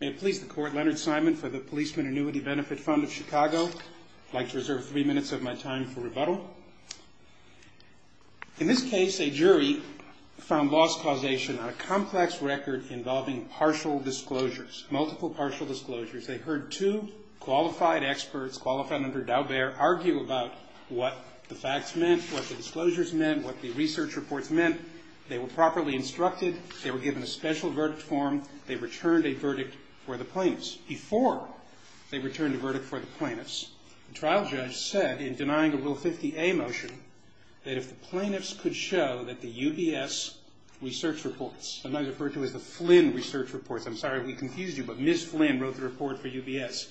May it please the Court, Leonard Simon for the Policemen's Annuity and Benefit Fund of Chicago. I'd like to reserve three minutes of my time for rebuttal. In this case, a jury found loss causation on a complex record involving partial disclosures, multiple partial disclosures. They heard two qualified experts, qualified under Daubert, argue about what the facts meant, what the disclosures meant, what the research reports meant. They were properly instructed. They were given a special verdict form. They returned a verdict for the plaintiffs. Before they returned a verdict for the plaintiffs, the trial judge said, in denying a Rule 50A motion, that if the plaintiffs could show that the UBS research reports, sometimes referred to as the Flynn research reports. I'm sorry we confused you, but Ms. Flynn wrote the report for UBS.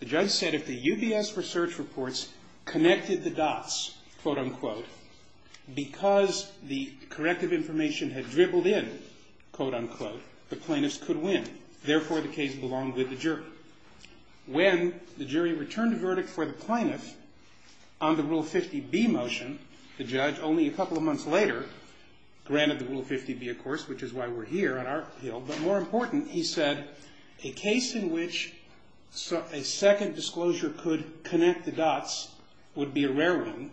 The judge said if the UBS research reports connected the dots, quote, unquote, because the corrective information had dribbled in, quote, unquote, the plaintiffs could win. Therefore, the case belonged with the jury. When the jury returned a verdict for the plaintiffs on the Rule 50B motion, the judge, only a couple of months later, granted the Rule 50B, of course, which is why we're here on our appeal, but more important, he said a case in which a second disclosure could connect the dots would be a rare one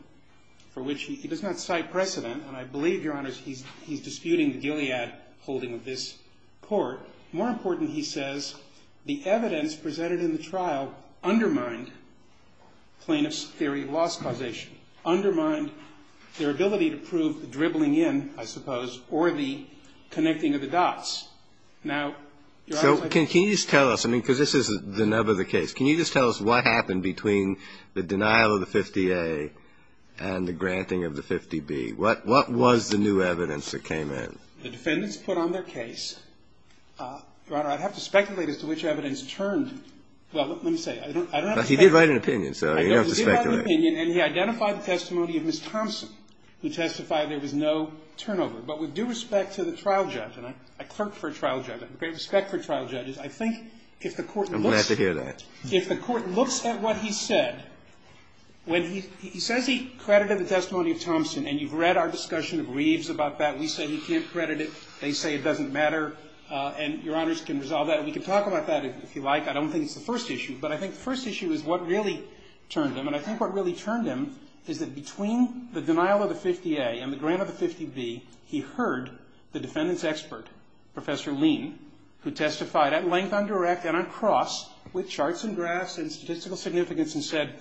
for which he does not cite precedent, and I believe, Your Honor, he's disputing the Gilead holding of this court. More important, he says, the evidence presented in the trial undermined plaintiffs' theory of loss causation, undermined their ability to prove the dribbling in, I suppose, or the connecting of the dots. Now, Your Honor, can you just tell us, I mean, because this is the nub of the case, can you just tell us what happened between the denial of the 50A and the granting of the 50B? What was the new evidence that came in? The defendants put on their case, Your Honor, I'd have to speculate as to which evidence turned. Well, let me say, I don't have to speculate. Well, he did write an opinion, so you don't have to speculate. He did write an opinion, and he identified the testimony of Ms. Thompson, who testified there was no turnover. But with due respect to the trial judge, and I clerk for a trial judge, I have great respect for trial judges, I think if the court looks at that. I'm glad to hear that. If the court looks at what he said, when he says he credited the testimony of Thompson, and you've read our discussion of Reeves about that, we say he can't credit it, they say it doesn't matter, and Your Honors can resolve that. We can talk about that if you like. I don't think it's the first issue. But I think the first issue is what really turned him. And I think what really turned him is that between the denial of the 50A and the grant of the 50B, he heard the defendant's expert, Professor Lean, who testified at length, on direct, and on cross, with charts and graphs and statistical significance, and said,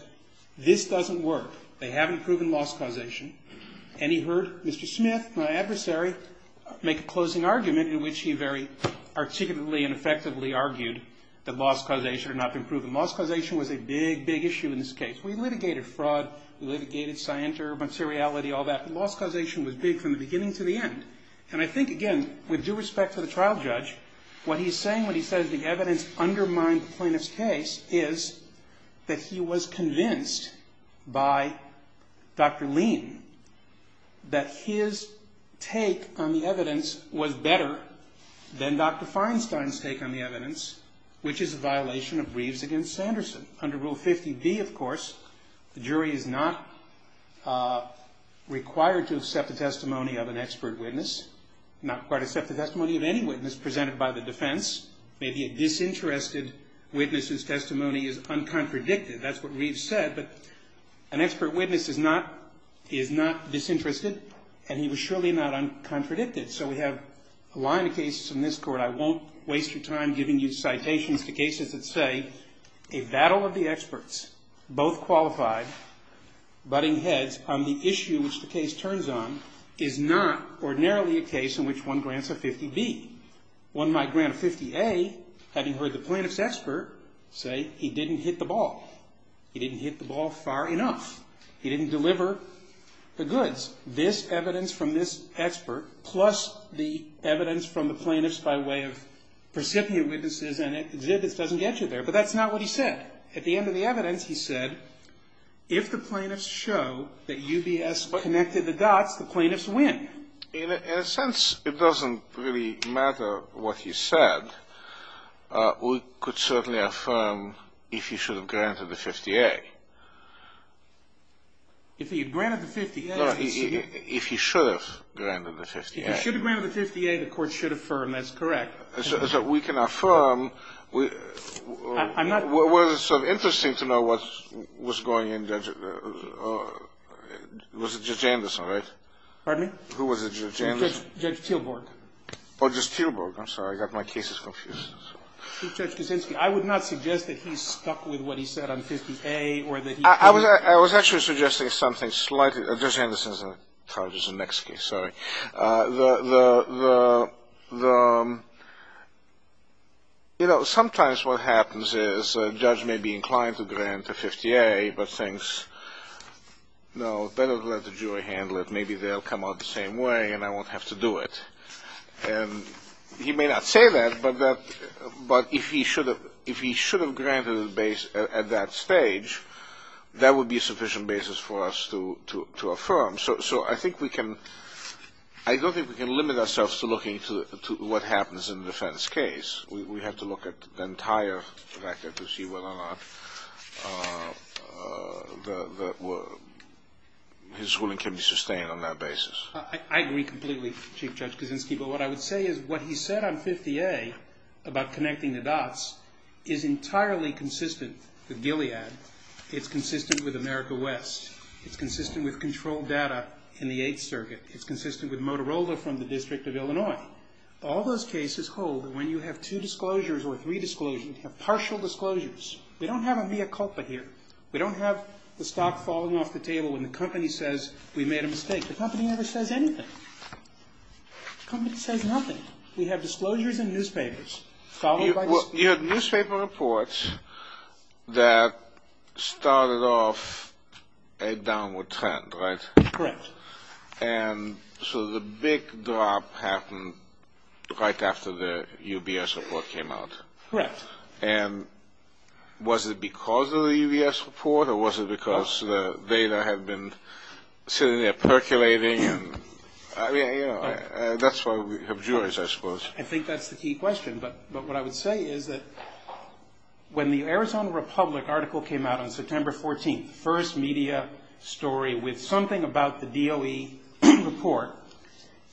this doesn't work. They haven't proven loss causation. And he heard Mr. Smith, my adversary, make a closing argument in which he very articulately and effectively argued that loss causation had not been proven. Loss causation was a big, big issue in this case. We litigated fraud. We litigated scientific materiality, all that. Loss causation was big from the beginning to the end. And I think, again, with due respect to the trial judge, what he's saying when he says the evidence undermined the plaintiff's case is that he was convinced by Dr. Lean that his take on the evidence was better than Dr. Feinstein's take on the evidence, which is a violation of Reeves against Sanderson. Under Rule 50B, of course, the jury is not required to accept the testimony of an expert witness, not required to accept the testimony of any witness presented by the defense. Maybe a disinterested witness's testimony is uncontradicted. That's what Reeves said. But an expert witness is not disinterested, and he was surely not uncontradicted. So we have a line of cases in this court. But I won't waste your time giving you citations to cases that say a battle of the experts, both qualified, butting heads on the issue which the case turns on, is not ordinarily a case in which one grants a 50B. One might grant a 50A, having heard the plaintiff's expert say he didn't hit the ball. He didn't hit the ball far enough. He didn't deliver the goods. This evidence from this expert plus the evidence from the plaintiffs by way of precipient witnesses and exhibits doesn't get you there. But that's not what he said. At the end of the evidence, he said, if the plaintiffs show that UBS connected the dots, the plaintiffs win. In a sense, it doesn't really matter what he said. We could certainly affirm if he should have granted the 50A. If he had granted the 50A. No, if he should have granted the 50A. If he should have granted the 50A, the Court should affirm. That's correct. So we can affirm. I'm not. Well, it's sort of interesting to know what was going on. Was it Judge Anderson, right? Pardon me? Who was it, Judge Anderson? Judge Teelborg. Oh, Judge Teelborg. I'm sorry. I got my cases confused. Judge Kuczynski, I would not suggest that he's stuck with what he said on 50A. I was actually suggesting something slightly. Judge Anderson's charges in the next case. Sorry. You know, sometimes what happens is a judge may be inclined to grant the 50A, but thinks, no, better let the jury handle it. Maybe they'll come out the same way, and I won't have to do it. And he may not say that, but if he should have granted it at that stage, that would be a sufficient basis for us to affirm. So I don't think we can limit ourselves to looking to what happens in the defense case. We have to look at the entire factor to see whether or not his ruling can be sustained on that basis. I agree completely, Chief Judge Kuczynski. But what I would say is what he said on 50A about connecting the dots is entirely consistent with Gilead. It's consistent with America West. It's consistent with controlled data in the Eighth Circuit. It's consistent with Motorola from the District of Illinois. All those cases hold that when you have two disclosures or three disclosures, you have partial disclosures. We don't have a mea culpa here. We don't have the stock falling off the table when the company says we made a mistake. The company never says anything. The company says nothing. We have disclosures in newspapers followed by disclosures. You had newspaper reports that started off a downward trend, right? Correct. And so the big drop happened right after the UBS report came out. Correct. And was it because of the UBS report or was it because the data had been sitting there percolating? I mean, you know, that's why we have juries, I suppose. I think that's the key question. But what I would say is that when the Arizona Republic article came out on September 14th, first media story with something about the DOE report,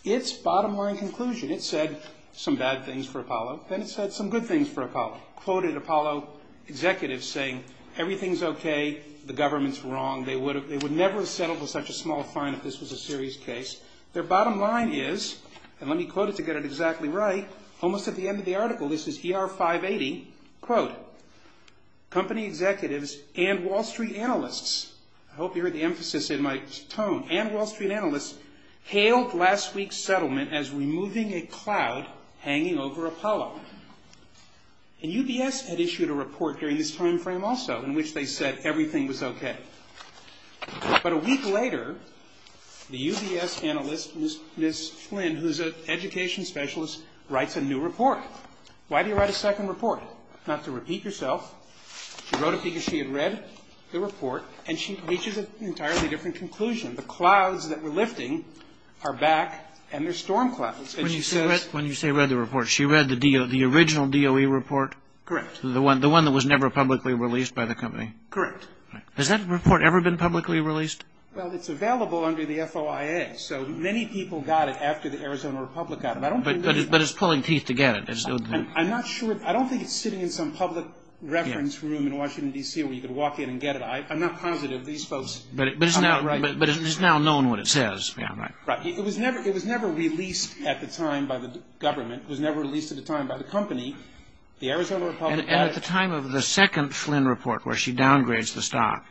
its bottom line conclusion, it said some bad things for Apollo. Then it said some good things for Apollo. Quoted Apollo executives saying everything's okay, the government's wrong, they would never have settled with such a small fine if this was a serious case. Their bottom line is, and let me quote it to get it exactly right, almost at the end of the article, this is ER 580, quote, company executives and Wall Street analysts, I hope you heard the emphasis in my tone, and Wall Street analysts hailed last week's settlement as removing a cloud hanging over Apollo. And UBS had issued a report during this time frame also in which they said everything was okay. But a week later, the UBS analyst, Ms. Flynn, who's an education specialist, writes a new report. Why do you write a second report? Not to repeat yourself. She wrote it because she had read the report and she reaches an entirely different conclusion. The clouds that we're lifting are back and they're storm clouds. When you say read the report, she read the original DOE report? Correct. The one that was never publicly released by the company? Correct. Has that report ever been publicly released? Well, it's available under the FOIA. So many people got it after the Arizona Republic got it. But it's pulling teeth to get it. I'm not sure. I don't think it's sitting in some public reference room in Washington, D.C. where you could walk in and get it. I'm not positive these folks are right. But it's now known what it says. Right. It was never released at the time by the government. It was never released at the time by the company. The Arizona Republic got it. And at the time of the second Flynn report where she downgrades the stock,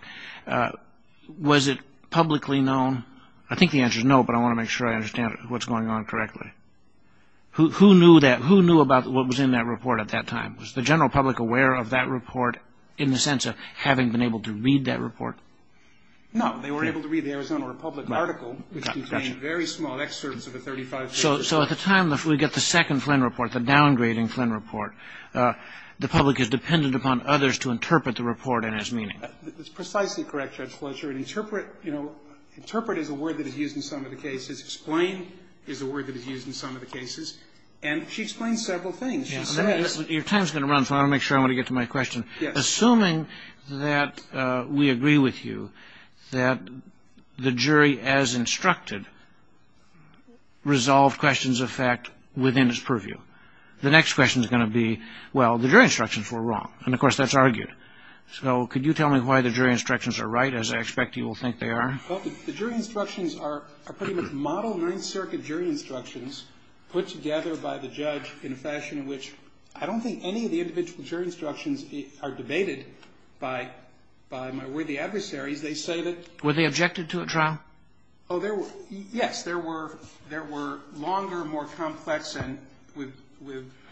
was it publicly known? I think the answer is no, but I want to make sure I understand what's going on correctly. Who knew about what was in that report at that time? Was the general public aware of that report in the sense of having been able to read that report? No. They were able to read the Arizona Republic article, which contained very small excerpts of the 35 pages. So at the time we get the second Flynn report, the downgrading Flynn report, the public is dependent upon others to interpret the report and its meaning. That's precisely correct, Judge Fletcher. And interpret, you know, interpret is a word that is used in some of the cases. Explain is a word that is used in some of the cases. And she explains several things. Your time is going to run, so I want to make sure I get to my question. Assuming that we agree with you that the jury as instructed resolved questions of fact within its purview, the next question is going to be, well, the jury instructions were wrong. And, of course, that's argued. So could you tell me why the jury instructions are right, as I expect you will think they are? Well, the jury instructions are pretty much model Ninth Circuit jury instructions put together by the judge in a fashion in which I don't think any of the individual jury instructions are debated by my worthy adversaries. They say that they were the objected to a trial. Oh, there were. Yes, there were. There were longer, more complex, and with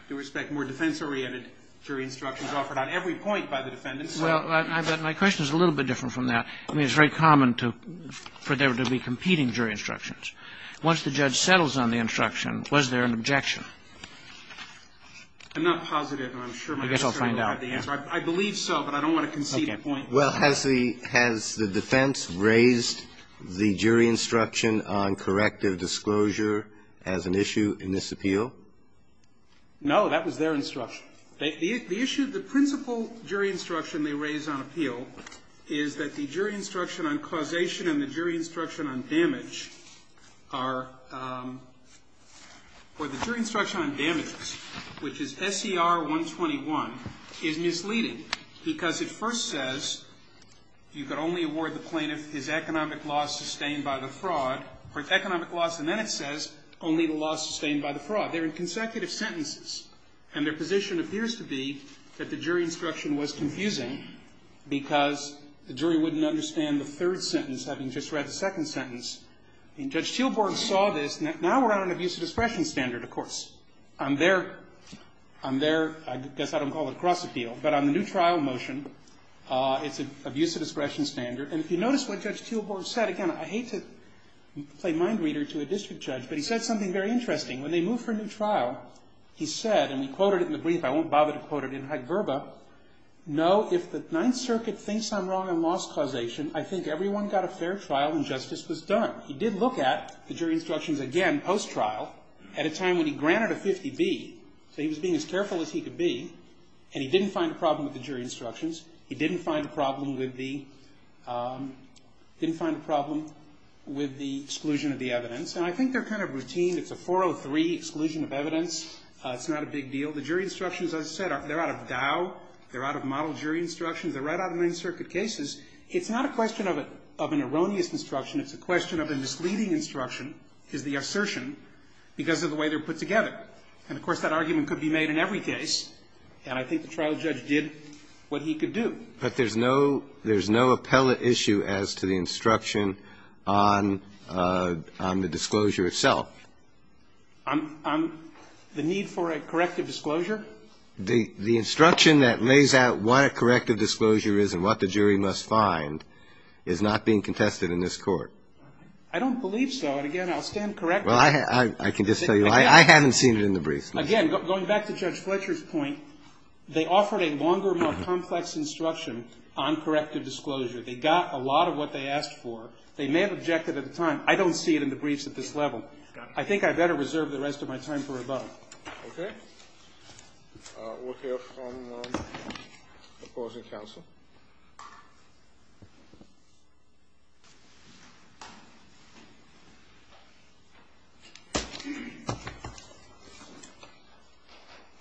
respect, more defense-oriented jury instructions offered on every point by the defendants. Well, my question is a little bit different from that. I mean, it's very common for there to be competing jury instructions. Once the judge settles on the instruction, was there an objection? I'm not positive. I'm sure my attorney will have the answer. I guess I'll find out. I believe so, but I don't want to concede a point. Well, has the defense raised the jury instruction on corrective disclosure as an issue in this appeal? No, that was their instruction. The issue, the principal jury instruction they raised on appeal is that the jury instruction on causation and the jury instruction on damage are or the jury instruction on damages, which is S.E.R. 121, is misleading because it first says you could only award the plaintiff his economic loss sustained by the fraud, or economic loss, and then it says only the loss sustained by the fraud. They're in consecutive sentences, and their position appears to be that the jury instruction was confusing because the jury wouldn't understand the third sentence having just read the second sentence. And Judge Teelborg saw this. Now we're on an abuse of discretion standard, of course. On their, I guess I don't call it cross appeal, but on the new trial motion, it's an abuse of discretion standard. And if you notice what Judge Teelborg said, again, I hate to play mind reader to a district judge, but he said something very interesting. When they moved for a new trial, he said, and we quoted it in the brief, I won't bother to quote it in hyperbole, no, if the Ninth Circuit thinks I'm wrong on loss causation, I think everyone got a fair trial and justice was done. He did look at the jury instructions, again, post-trial, at a time when he granted a 50B. So he was being as careful as he could be, and he didn't find a problem with the jury instructions. He didn't find a problem with the exclusion of the evidence. And I think they're kind of routine. It's a 403 exclusion of evidence. It's not a big deal. The jury instructions, as I said, they're out of Dow. They're out of model jury instructions. They're right out of Ninth Circuit cases. It's not a question of an erroneous instruction. It's a question of a misleading instruction, is the assertion, because of the way they're put together. And, of course, that argument could be made in every case, and I think the trial judge did what he could do. But there's no appellate issue as to the instruction on the disclosure itself. The need for a corrective disclosure? The instruction that lays out what a corrective disclosure is and what the jury must find is not being contested in this Court. I don't believe so. And, again, I'll stand corrected. Well, I can just tell you I haven't seen it in the briefs. Again, going back to Judge Fletcher's point, they offered a longer, more complex instruction on corrective disclosure. They got a lot of what they asked for. They may have objected at the time. I don't see it in the briefs at this level. But I think I'd better reserve the rest of my time for rebuttal. Okay. We'll hear from the opposing counsel.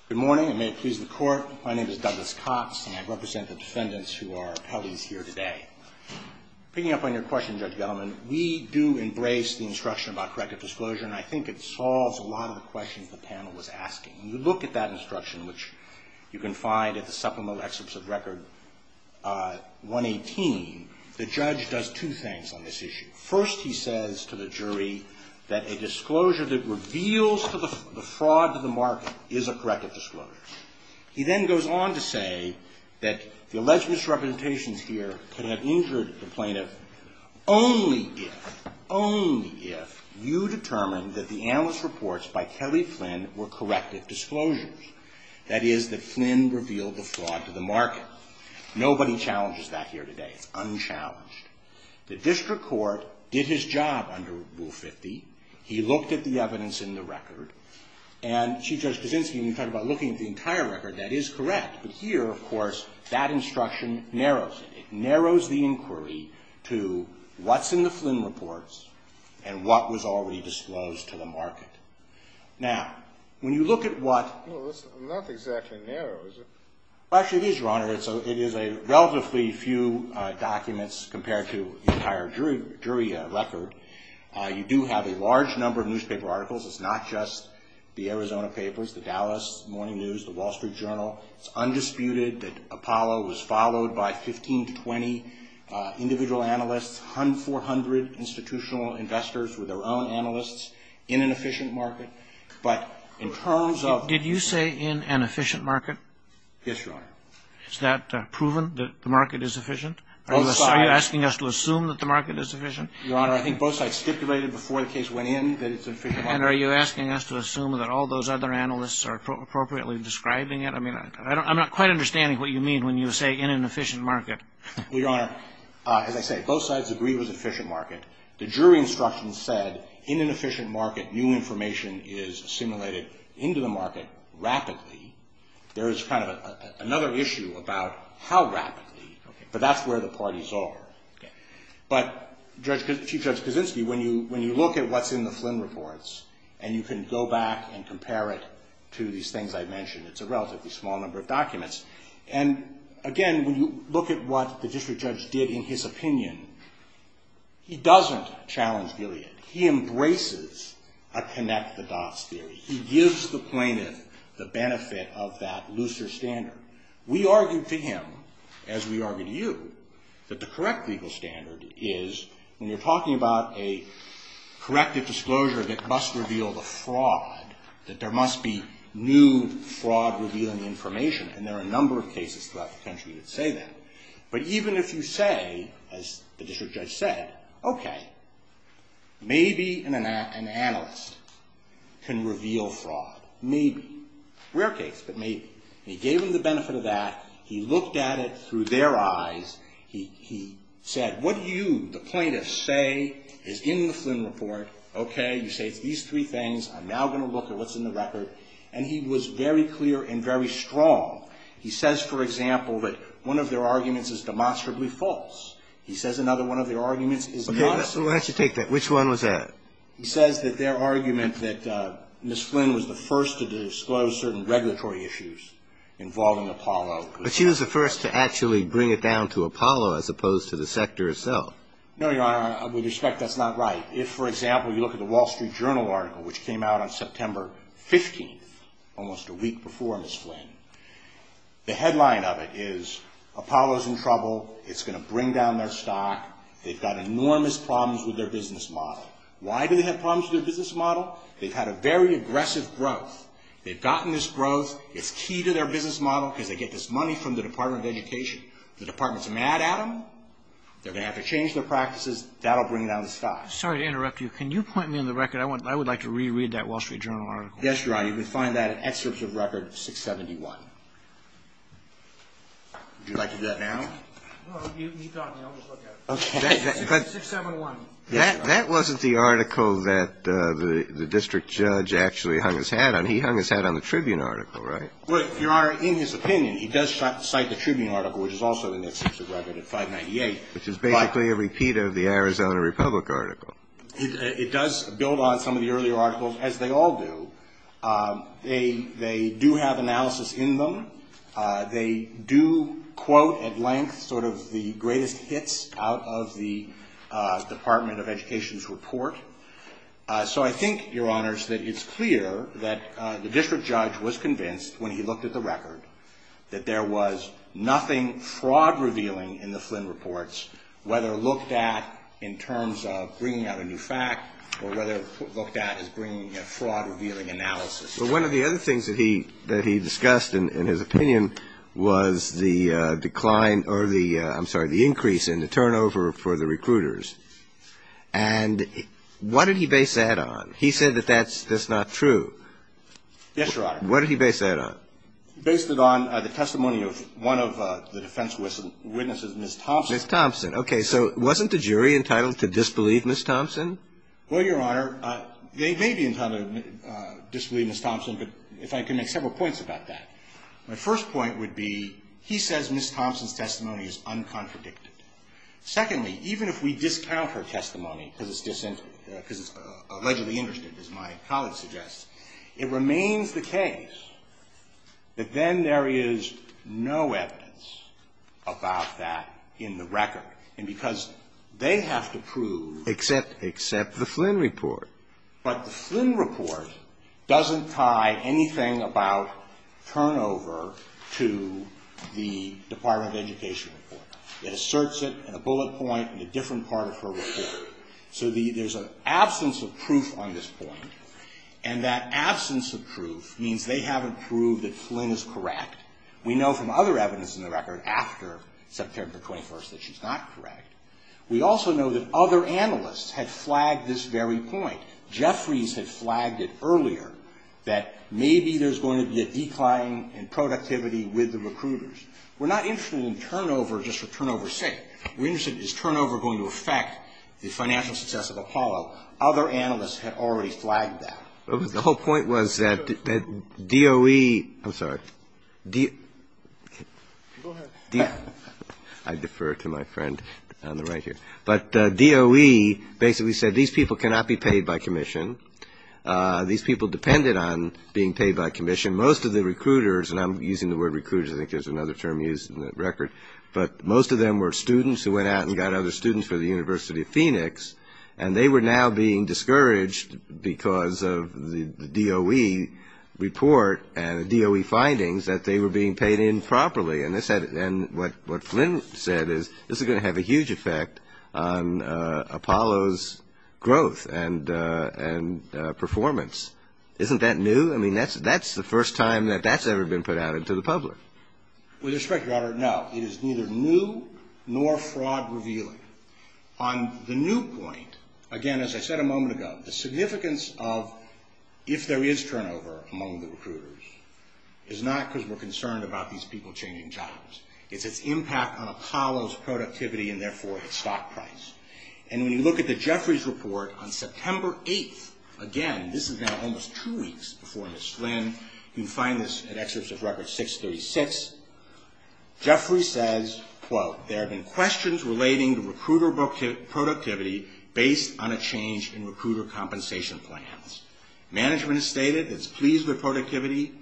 Good morning, and may it please the Court. My name is Douglas Cox, and I represent the defendants who are appellees here today. Picking up on your question, Judge Gellman, we do embrace the instruction about corrective disclosure, and I think it solves a lot of the questions the panel was asking. When you look at that instruction, which you can find at the supplemental excerpts of Record 118, the judge does two things on this issue. First, he says to the jury that a disclosure that reveals the fraud to the market is a corrective disclosure. He then goes on to say that the alleged misrepresentations here could have injured the plaintiff only if, only if you determine that the analyst reports by Kelly Flynn were corrective disclosures. That is, that Flynn revealed the fraud to the market. Nobody challenges that here today. It's unchallenged. The district court did his job under Rule 50. He looked at the evidence in the record, and Chief Judge Kaczynski, when you talk about looking at the entire record, that is correct. But here, of course, that instruction narrows it. It narrows the inquiry to what's in the Flynn reports and what was already disclosed to the market. Now, when you look at what... Well, that's not exactly narrow, is it? Well, actually, it is, Your Honor. It is a relatively few documents compared to the entire jury record. You do have a large number of newspaper articles. It's not just the Arizona Papers, the Dallas Morning News, the Wall Street Journal. It's undisputed that Apollo was followed by 15 to 20 individual analysts, 400 institutional investors with their own analysts in an efficient market. But in terms of... Did you say in an efficient market? Yes, Your Honor. Is that proven, that the market is efficient? Are you asking us to assume that the market is efficient? Your Honor, I think both sides stipulated before the case went in that it's an efficient market. And are you asking us to assume that all those other analysts are appropriately describing it? I mean, I'm not quite understanding what you mean when you say in an efficient market. Well, Your Honor, as I say, both sides agree it was an efficient market. The jury instructions said in an efficient market, new information is assimilated into the market rapidly. There is kind of another issue about how rapidly. But that's where the parties are. But, Chief Judge Kaczynski, when you look at what's in the Flynn reports and you can go back and compare it to these things I mentioned, it's a relatively small number of documents. And, again, when you look at what the district judge did in his opinion, he doesn't challenge Gilead. He embraces a connect-the-dots theory. He gives the plaintiff the benefit of that looser standard. We argued to him, as we argue to you, that the correct legal standard is when you're talking about a corrective disclosure that must reveal the fraud, that there must be new fraud-revealing information. And there are a number of cases throughout the country that say that. But even if you say, as the district judge said, okay, maybe an analyst can reveal fraud. Maybe. Rare case, but maybe. And he gave him the benefit of that. He looked at it through their eyes. He said, what do you, the plaintiff, say is in the Flynn report? Okay. You say it's these three things. I'm now going to look at what's in the record. And he was very clear and very strong. He says, for example, that one of their arguments is demonstrably false. He says another one of their arguments is not. Okay. Let's take that. Which one was that? He says that their argument that Ms. Flynn was the first to disclose certain regulatory issues involving Apollo. But she was the first to actually bring it down to Apollo as opposed to the sector itself. No, Your Honor. With respect, that's not right. If, for example, you look at the Wall Street Journal article, which came out on September 15th, almost a week before Ms. Flynn, the headline of it is Apollo's in trouble. It's going to bring down their stock. They've got enormous problems with their business model. Why do they have problems with their business model? They've had a very aggressive growth. They've gotten this growth. It's key to their business model because they get this money from the Department of Education. The Department's mad at them. They're going to have to change their practices. That will bring it down to stock. Sorry to interrupt you. Can you point me in the record? I would like to reread that Wall Street Journal article. Yes, Your Honor. You can find that in excerpts of Record 671. Would you like to do that now? Well, keep talking. I'll just look at it. Okay. 671. That wasn't the article that the district judge actually hung his hat on. He hung his hat on the Tribune article, right? Well, Your Honor, in his opinion, he does cite the Tribune article, which is also in the excerpts of Record 598. Which is basically a repeat of the Arizona Republic article. It does build on some of the earlier articles, as they all do. They do have analysis in them. They do quote at length sort of the greatest hits out of the Department of Education's report. So I think, Your Honors, that it's clear that the district judge was convinced, when he looked at the record, that there was nothing fraud-revealing in the Flynn reports, whether looked at in terms of bringing out a new fact or whether looked at as bringing a fraud-revealing analysis. But one of the other things that he discussed in his opinion was the decline or the ‑‑ I'm sorry, the increase in the turnover for the recruiters. And what did he base that on? He said that that's not true. Yes, Your Honor. What did he base that on? He based it on the testimony of one of the defense witnesses, Ms. Thompson. Ms. Thompson. Okay. So wasn't the jury entitled to disbelieve Ms. Thompson? Well, Your Honor, they may be entitled to disbelieve Ms. Thompson, but if I can make several points about that. My first point would be he says Ms. Thompson's testimony is uncontradicted. Secondly, even if we discount her testimony because it's allegedly interested, as my colleague suggests, it remains the case that then there is no evidence about that in the record. And because they have to prove ‑‑ Except the Flynn report. But the Flynn report doesn't tie anything about turnover to the Department of Education report. It asserts it in a bullet point in a different part of her report. So there's an absence of proof on this point. And that absence of proof means they haven't proved that Flynn is correct. We know from other evidence in the record after September 21st that she's not correct. We also know that other analysts had flagged this very point. Jeffries had flagged it earlier that maybe there's going to be a decline in productivity with the recruiters. We're not interested in turnover just for turnover's sake. We're interested in is turnover going to affect the financial success of Apollo. Other analysts had already flagged that. The whole point was that DOE ‑‑ I'm sorry. Go ahead. I defer to my friend on the right here. But DOE basically said these people cannot be paid by commission. These people depended on being paid by commission. Most of the recruiters, and I'm using the word recruiters. I think there's another term used in the record. But most of them were students who went out and got other students for the University of Phoenix. And they were now being discouraged because of the DOE report and the DOE findings that they were being paid in properly. And what Flynn said is this is going to have a huge effect on Apollo's growth and performance. Isn't that new? I mean, that's the first time that that's ever been put out into the public. With respect, Your Honor, no. It is neither new nor fraud revealing. On the new point, again, as I said a moment ago, the significance of if there is turnover among the recruiters is not because we're concerned about these people changing jobs. It's its impact on Apollo's productivity and, therefore, its stock price. And when you look at the Jeffries report on September 8th, again, this is now almost two weeks before Ms. Flynn. You can find this at excerpts of record 636. Jeffries says, quote, there have been questions relating to recruiter productivity based on a change in recruiter compensation plans. Management has stated it's pleased with productivity.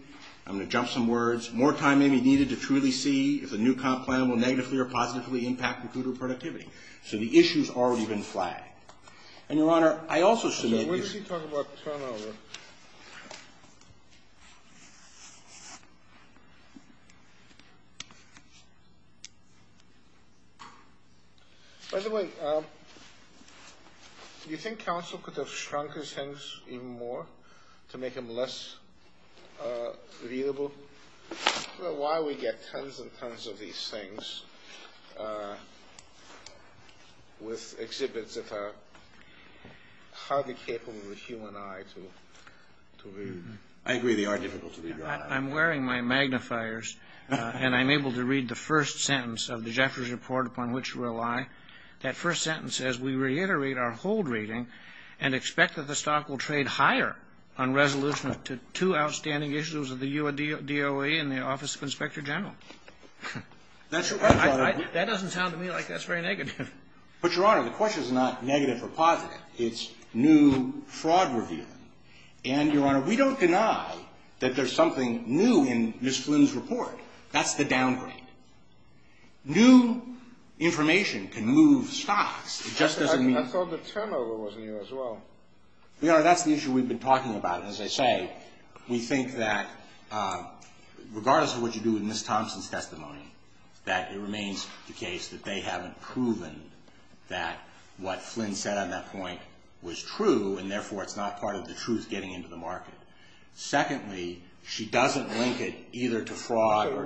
I'm going to jump some words. More time may be needed to truly see if the new comp plan will negatively or positively impact recruiter productivity. So the issue's already been flagged. And, Your Honor, I also submit this. So what does he talk about turnover? By the way, do you think counsel could have shrunk his hands even more to make them less readable? I don't know why we get tons and tons of these things with exhibits that are hardly capable of the human eye to read. I agree they are difficult to read, Your Honor. I'm wearing my magnifiers, and I'm able to read the first sentence of the Jeffries report upon which you rely. That first sentence says we reiterate our hold reading and expect that the stock will trade higher on resolution to two outstanding issues of the DOE and the Office of Inspector General. That doesn't sound to me like that's very negative. But, Your Honor, the question's not negative or positive. It's new fraud review. And, Your Honor, we don't deny that there's something new in Ms. Flynn's report. That's the downgrade. New information can move stocks. It just doesn't mean... I thought the turnover was new as well. Your Honor, that's the issue we've been talking about. And, as I say, we think that regardless of what you do with Ms. Thompson's testimony, that it remains the case that they haven't proven that what Flynn said on that point was true. And, therefore, it's not part of the truth getting into the market. Secondly, she doesn't link it either to fraud or...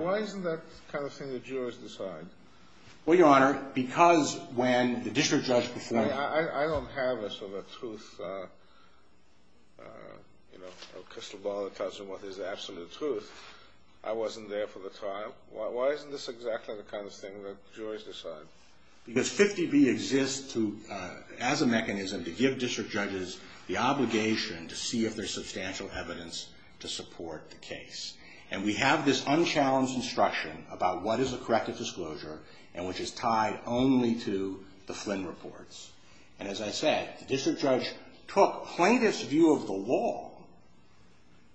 Well, Your Honor, because when the district judge before... Because 50B exists as a mechanism to give district judges the obligation to see if there's substantial evidence to support the case. And we have this unchallenged instruction about what is a corrective disclosure and which is tied only to the Flynn reports. And, as I said, the district judge took plaintiff's view of the law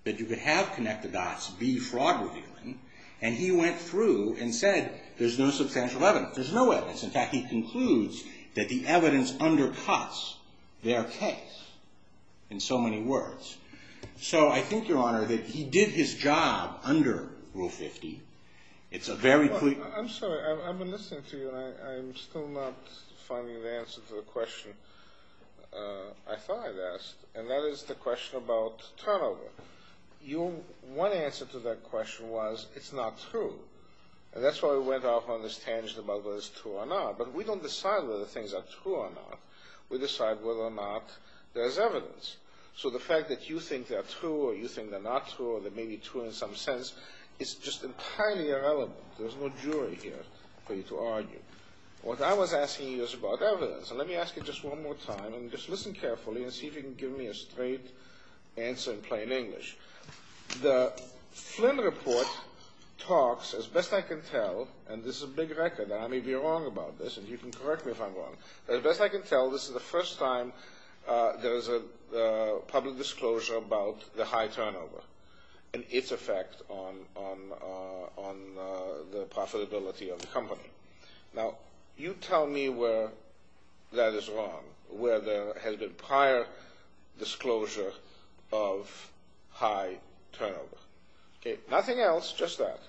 that you could have connected dots, be fraud-revealing. And he went through and said there's no substantial evidence. There's no evidence. In fact, he concludes that the evidence undercuts their case in so many words. So I think, Your Honor, that he did his job under Rule 50. It's a very clear... I'm sorry. I've been listening to you, and I'm still not finding the answer to the question I thought I'd ask. And that is the question about turnover. Your one answer to that question was it's not true. And that's why we went off on this tangent about whether it's true or not. But we don't decide whether things are true or not. We decide whether or not there's evidence. So the fact that you think they're true or you think they're not true or they may be true in some sense is just entirely irrelevant. There's no jury here for you to argue. What I was asking you is about evidence. And let me ask you just one more time. And just listen carefully and see if you can give me a straight answer in plain English. The Flynn report talks, as best I can tell, and this is a big record, and I may be wrong about this, and you can correct me if I'm wrong. But as best I can tell, this is the first time there is a public disclosure about the high turnover and its effect on the profitability of the company. Now, you tell me where that is wrong, where there has been prior disclosure of high turnover. Nothing else, just that.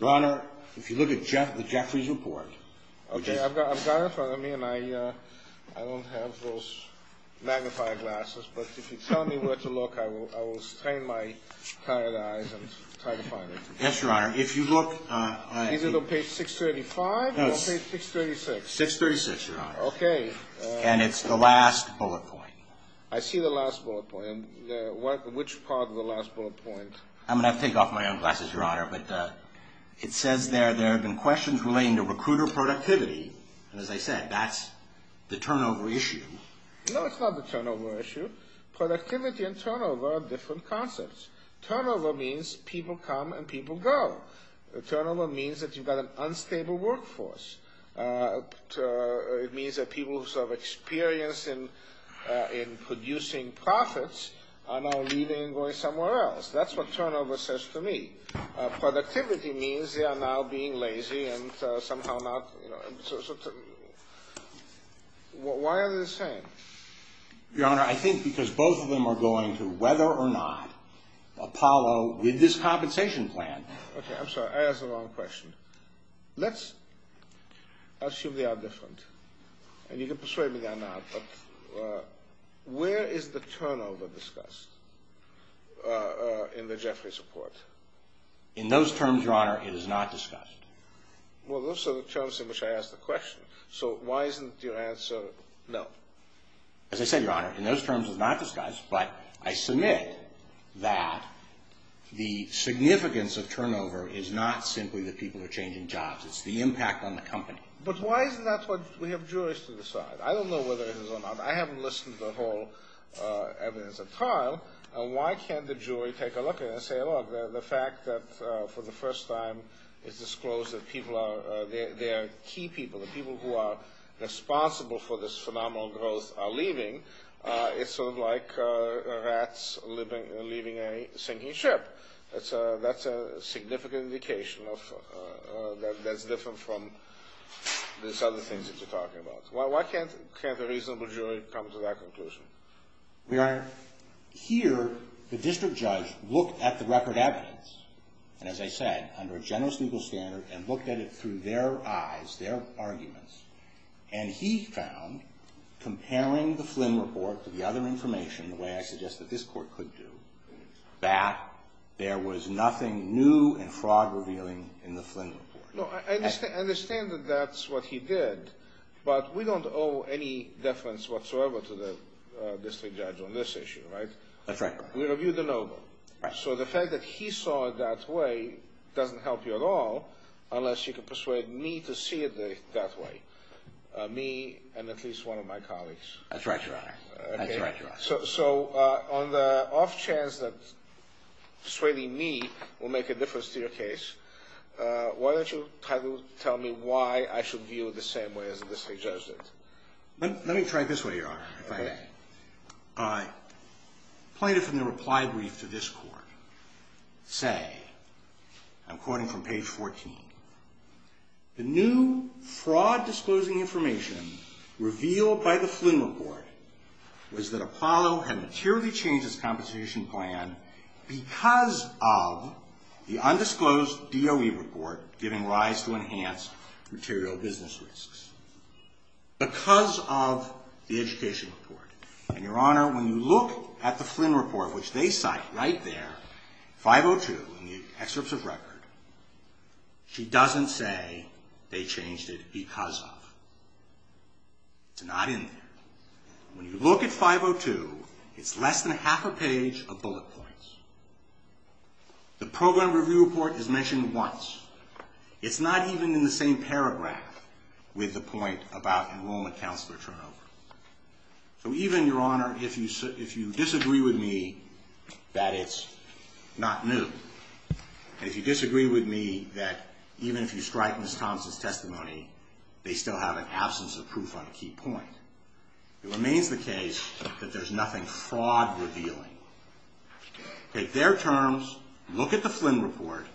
Your Honor, if you look at the Jeffries report. Okay. I've got it in front of me, and I don't have those magnifying glasses. But if you tell me where to look, I will strain my tired eyes and try to find it. Yes, Your Honor. If you look. Is it on page 635 or page 636? 636, Your Honor. Okay. And it's the last bullet point. I see the last bullet point. Which part of the last bullet point? I'm going to have to take off my own glasses, Your Honor. It says there there have been questions relating to recruiter productivity. And as I said, that's the turnover issue. No, it's not the turnover issue. Productivity and turnover are different concepts. Turnover means people come and people go. Turnover means that you've got an unstable workforce. It means that people who have experience in producing profits are now leaving and going somewhere else. That's what turnover says to me. Productivity means they are now being lazy and somehow not. Why are they the same? Your Honor, I think because both of them are going to, whether or not, Apollo with this compensation plan. Okay, I'm sorry. I asked the wrong question. Let's assume they are different. And you can persuade me they are not. Where is the turnover discussed in the Jeffries report? In those terms, Your Honor, it is not discussed. Well, those are the terms in which I asked the question. So why isn't your answer no? As I said, Your Honor, in those terms it's not discussed. But I submit that the significance of turnover is not simply that people are changing jobs. It's the impact on the company. But why is that what we have jurists to decide? I don't know whether it is or not. I haven't listened to the whole evidence at trial. And why can't the jury take a look at it and say, look, the fact that for the first time it's disclosed that people are, they are key people, the people who are responsible for this phenomenal growth are leaving, it's sort of like rats leaving a sinking ship. That's a significant indication that's different from these other things that you're talking about. Why can't the reasonable jury come to that conclusion? Your Honor, here the district judge looked at the record evidence, and as I said, under a generous legal standard, and looked at it through their eyes, their arguments. And he found, comparing the Flynn report to the other information, the way I suggest that this Court could do, that there was nothing new and fraud-revealing in the Flynn report. No, I understand that that's what he did. But we don't owe any deference whatsoever to the district judge on this issue, right? That's right, Your Honor. We reviewed the noble. Right. So the fact that he saw it that way doesn't help you at all unless you can persuade me to see it that way. Me and at least one of my colleagues. That's right, Your Honor. That's right, Your Honor. So on the off chance that persuading me will make a difference to your case, why don't you tell me why I should view it the same way as the district judge did? Let me try it this way, Your Honor, if I may. I pointed from the reply brief to this Court. Say, I'm quoting from page 14. The new fraud-disclosing information revealed by the Flynn report was that Apollo had materially changed its competition plan because of the undisclosed DOE report giving rise to enhanced material business risks. Because of the education report. And, Your Honor, when you look at the Flynn report, which they cite right there, 502 in the excerpts of record, she doesn't say they changed it because of. It's not in there. When you look at 502, it's less than half a page of bullet points. The program review report is mentioned once. It's not even in the same paragraph with the point about enrollment counselor turnover. So even, Your Honor, if you disagree with me that it's not new, and if you disagree with me that even if you strike Ms. Thomson's testimony, they still have an absence of proof on a key point, it remains the case that there's nothing fraud-revealing. Take their terms. Look at the Flynn report.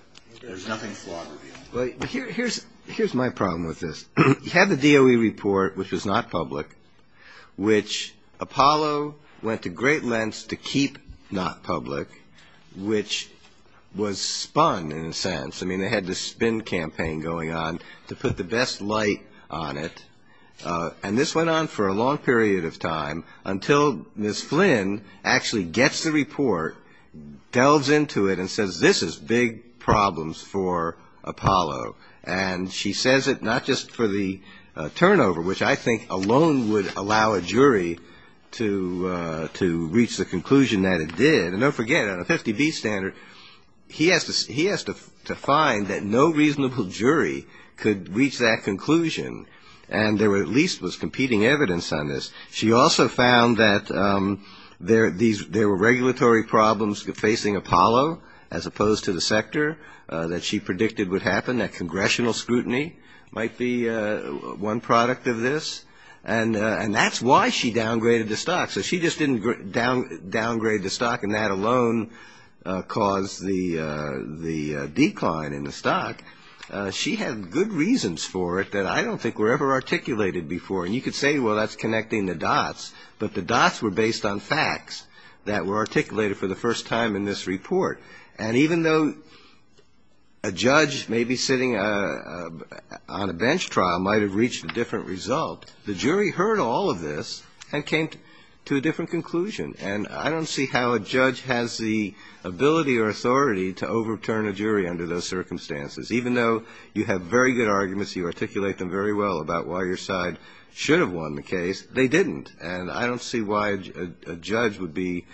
There's nothing fraud-revealing. Here's my problem with this. You had the DOE report, which was not public, which Apollo went to great lengths to keep not public, which was spun in a sense. I mean, they had this spin campaign going on to put the best light on it. And this went on for a long period of time until Ms. Flynn actually gets the report, delves into it, and says this is big problems for Apollo. And she says it not just for the turnover, which I think alone would allow a jury to reach the conclusion that it did. And don't forget, on a 50-beat standard, he has to find that no reasonable jury could reach that conclusion. And there at least was competing evidence on this. She also found that there were regulatory problems facing Apollo as opposed to the sector that she predicted would happen, that congressional scrutiny might be one product of this. And that's why she downgraded the stock. So she just didn't downgrade the stock, and that alone caused the decline in the stock. She had good reasons for it that I don't think were ever articulated before. And you could say, well, that's connecting the dots. But the dots were based on facts that were articulated for the first time in this report. And even though a judge maybe sitting on a bench trial might have reached a different result, the jury heard all of this and came to a different conclusion. And I don't see how a judge has the ability or authority to overturn a jury under those circumstances. Even though you have very good arguments, you articulate them very well about why your side should have won the case, they didn't. And I don't see why a judge would be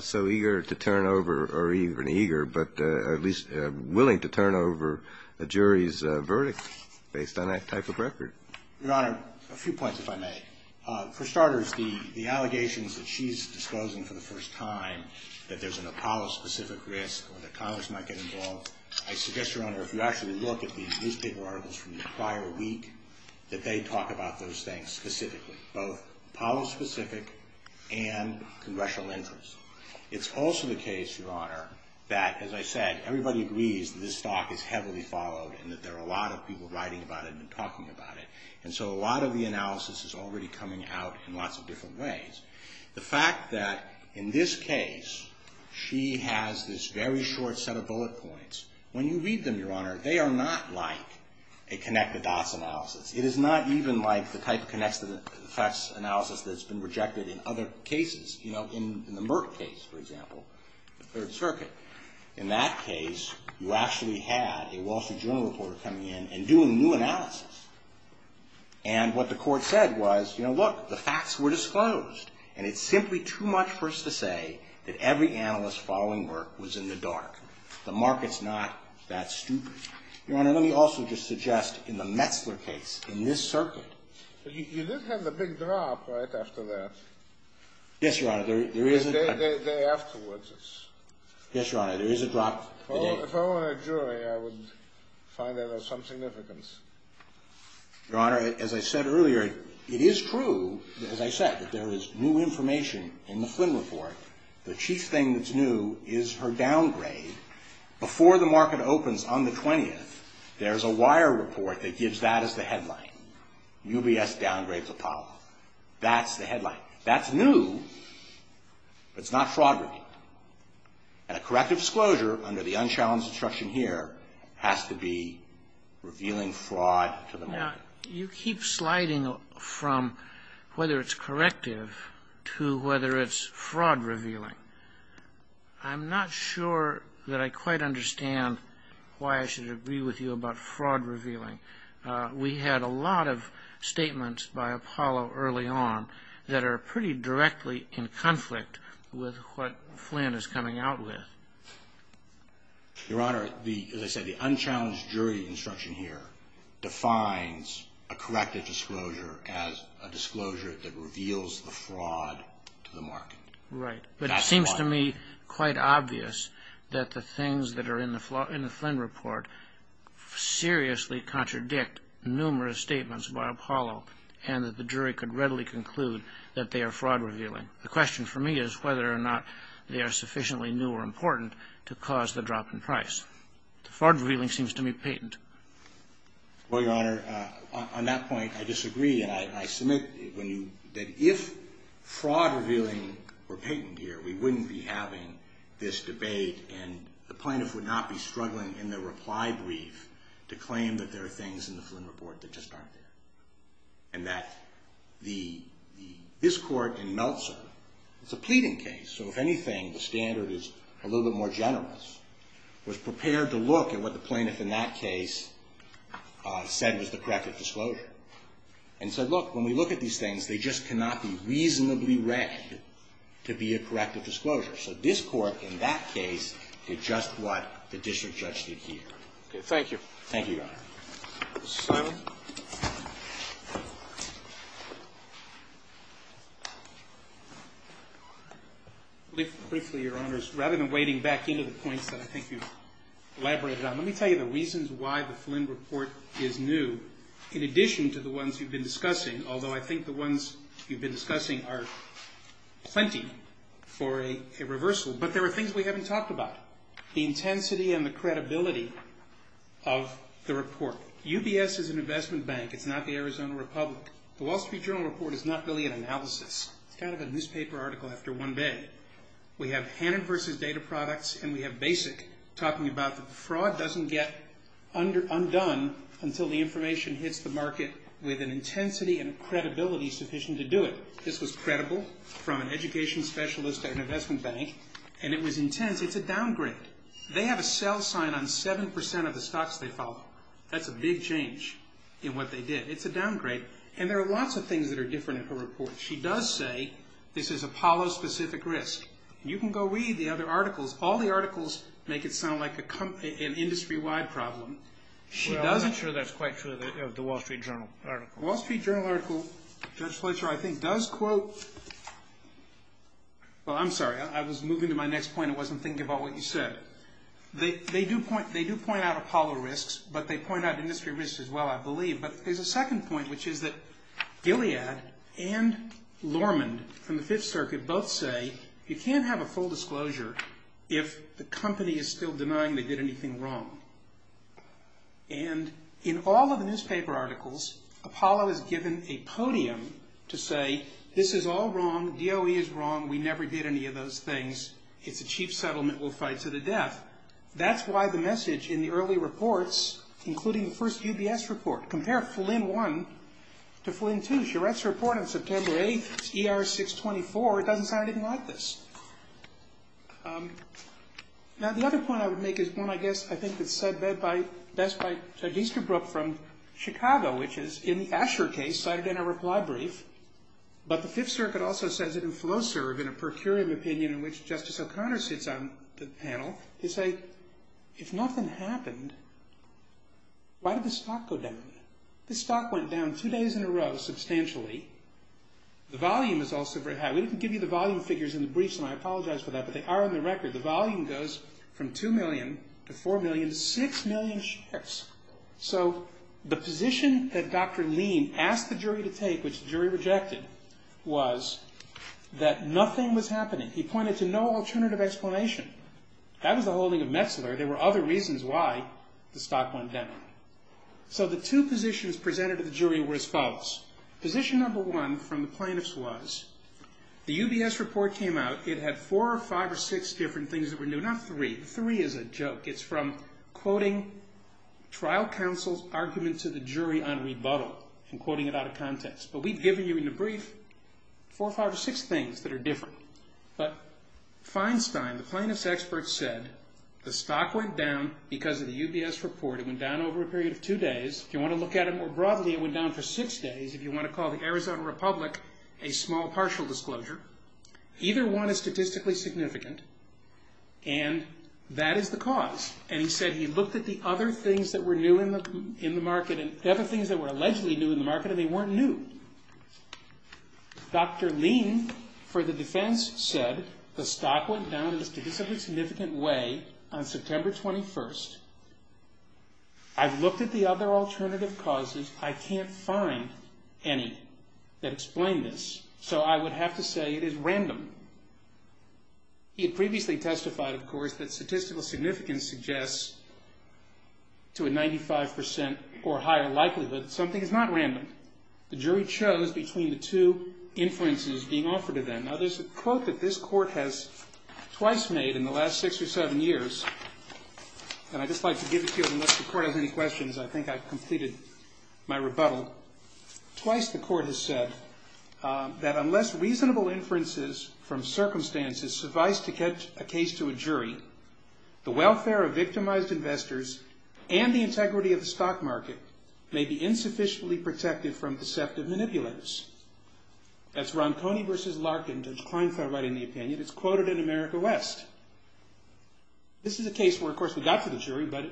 so eager to turn over, or even eager, but at least willing to turn over a jury's verdict based on that type of record. Your Honor, a few points, if I may. For starters, the allegations that she's disclosing for the first time that there's an Apollo-specific risk or that Congress might get involved, I suggest, Your Honor, if you actually look at the newspaper articles from the prior week, that they talk about those things specifically, both Apollo-specific and congressional interest. It's also the case, Your Honor, that, as I said, everybody agrees that this stock is heavily followed and that there are a lot of people writing about it and talking about it. And so a lot of the analysis is already coming out in lots of different ways. The fact that, in this case, she has this very short set of bullet points, when you read them, Your Honor, they are not like a connect-the-dots analysis. It is not even like the type of connect-the-dots analysis that's been rejected in other cases. You know, in the Merck case, for example, the Third Circuit, in that case, you actually had a Wall Street Journal reporter coming in and doing new analysis. And what the court said was, you know, look, the facts were disclosed, and it's simply too much for us to say that every analyst following Merck was in the dark. The market's not that stupid. Your Honor, let me also just suggest, in the Metzler case, in this circuit... Yes, Your Honor, there is a... The day afterwards... Yes, Your Honor, there is a drop... If I were a jury, I would find that of some significance. Your Honor, as I said earlier, it is true, as I said, that there is new information in the Flynn report. The chief thing that's new is her downgrade. Before the market opens on the 20th, there's a wire report that gives that as the headline. UBS downgrades Apollo. That's the headline. That's new, but it's not fraud-revealing. And a corrective disclosure under the unchallenged instruction here has to be revealing fraud to the market. Now, you keep sliding from whether it's corrective to whether it's fraud-revealing. I'm not sure that I quite understand why I should agree with you about fraud-revealing. We had a lot of statements by Apollo early on that are pretty directly in conflict with what Flynn is coming out with. Your Honor, as I said, the unchallenged jury instruction here defines a corrective disclosure as a disclosure that reveals the fraud to the market. Right, but it seems to me quite obvious that the things that are in the Flynn report seriously contradict numerous statements by Apollo and that the jury could readily conclude that they are fraud-revealing. The question for me is whether or not they are sufficiently new or important to cause the drop in price. Fraud-revealing seems to me patent. Well, Your Honor, on that point, I disagree, and I submit that if fraud-revealing were patent here, we wouldn't be having this debate, and the plaintiff would not be struggling in the reply brief to claim that there are things in the Flynn report that just aren't there. And that this Court in Meltzer, it's a pleading case, so if anything, the standard is a little bit more generous, was prepared to look at what the plaintiff in that case said was the corrective disclosure and said, look, when we look at these things, they just cannot be reasonably read to be a corrective disclosure. So this Court in that case did just what the district judge did here. Okay. Thank you. Thank you, Your Honor. Mr. Simon? Briefly, Your Honors, rather than wading back into the points that I think you've elaborated on, let me tell you the reasons why the Flynn report is new in addition to the ones you've been discussing, although I think the ones you've been discussing are plenty for a reversal. But there are things we haven't talked about, the intensity and the credibility of the report. UBS is an investment bank. It's not the Arizona Republic. The Wall Street Journal report is not really an analysis. It's kind of a newspaper article after one day. We have Hannon v. Data Products and we have Basic talking about the fraud doesn't get undone until the information hits the market with an intensity and credibility sufficient to do it. This was credible from an education specialist at an investment bank, and it was intense. It's a downgrade. They have a sell sign on 7% of the stocks they follow. That's a big change in what they did. It's a downgrade, and there are lots of things that are different in her report. She does say this is Apollo-specific risk. You can go read the other articles. All the articles make it sound like an industry-wide problem. Well, I'm not sure that's quite true of the Wall Street Journal article. The Wall Street Journal article, Judge Fletcher, I think, does quote – well, I'm sorry. I was moving to my next point. I wasn't thinking about what you said. They do point out Apollo risks, but they point out industry risks as well, I believe. But there's a second point, which is that Gilead and Lormond from the Fifth Circuit both say you can't have a full disclosure if the company is still denying they did anything wrong. And in all of the newspaper articles, Apollo is given a podium to say this is all wrong. DOE is wrong. We never did any of those things. It's a chief settlement. We'll fight to the death. That's why the message in the early reports, including the first UBS report, compare Flynn 1 to Flynn 2, Charette's report on September 8th, ER 624. It doesn't sound anything like this. Now, the other point I would make is one, I guess, I think, that's said best by Judge Easterbrook from Chicago, which is in the Asher case, cited in a reply brief. But the Fifth Circuit also says it in FLOSERV, in a per curiam opinion, in which Justice O'Connor sits on the panel. They say, if nothing happened, why did the stock go down? The stock went down two days in a row, substantially. The volume is also very high. We didn't give you the volume figures in the briefs, and I apologize for that, but they are on the record. The volume goes from 2 million to 4 million to 6 million shares. So the position that Dr. Lean asked the jury to take, which the jury rejected, was that nothing was happening. He pointed to no alternative explanation. That was the holding of Metzler. There were other reasons why the stock went down. So the two positions presented to the jury were as follows. Position number one from the plaintiffs was the UBS report came out. It had four or five or six different things that were new. Not three. Three is a joke. It's from quoting trial counsel's argument to the jury on rebuttal and quoting it out of context. But we've given you in the brief four or five or six things that are different. But Feinstein, the plaintiff's expert, said the stock went down because of the UBS report. It went down over a period of two days. If you want to look at it more broadly, it went down for six days. If you want to call the Arizona Republic a small partial disclosure, either one is statistically significant, and that is the cause. And he said he looked at the other things that were new in the market and other things that were allegedly new in the market and they weren't new. Dr. Lean for the defense said the stock went down in a statistically significant way on September 21st. I've looked at the other alternative causes. I can't find any that explain this. So I would have to say it is random. He had previously testified, of course, that statistical significance suggests to a 95% or higher likelihood that something is not random. The jury chose between the two inferences being offered to them. Now, there's a quote that this court has twice made in the last six or seven years, and I'd just like to give it to you unless the court has any questions. I think I've completed my rebuttal. Twice the court has said that unless reasonable inferences from circumstances suffice to get a case to a jury, the welfare of victimized investors and the integrity of the stock market may be insufficiently protected from deceptive manipulatives. That's Ronconi v. Larkin, Judge Kleinfeld writing the opinion. It's quoted in America West. This is a case where, of course, we got to the jury, but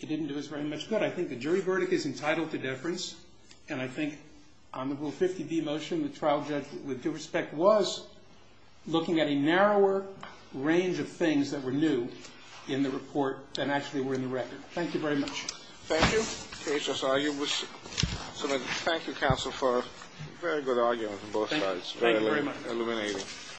it didn't do us very much good. I think the jury verdict is entitled to deference, and I think on the Rule 50d motion, the trial judge, with due respect, was looking at a narrower range of things that were new in the report than actually were in the record. Thank you very much. Thank you. HSIU was submitted. Thank you, counsel, for a very good argument on both sides. Thank you very much. Very illuminating.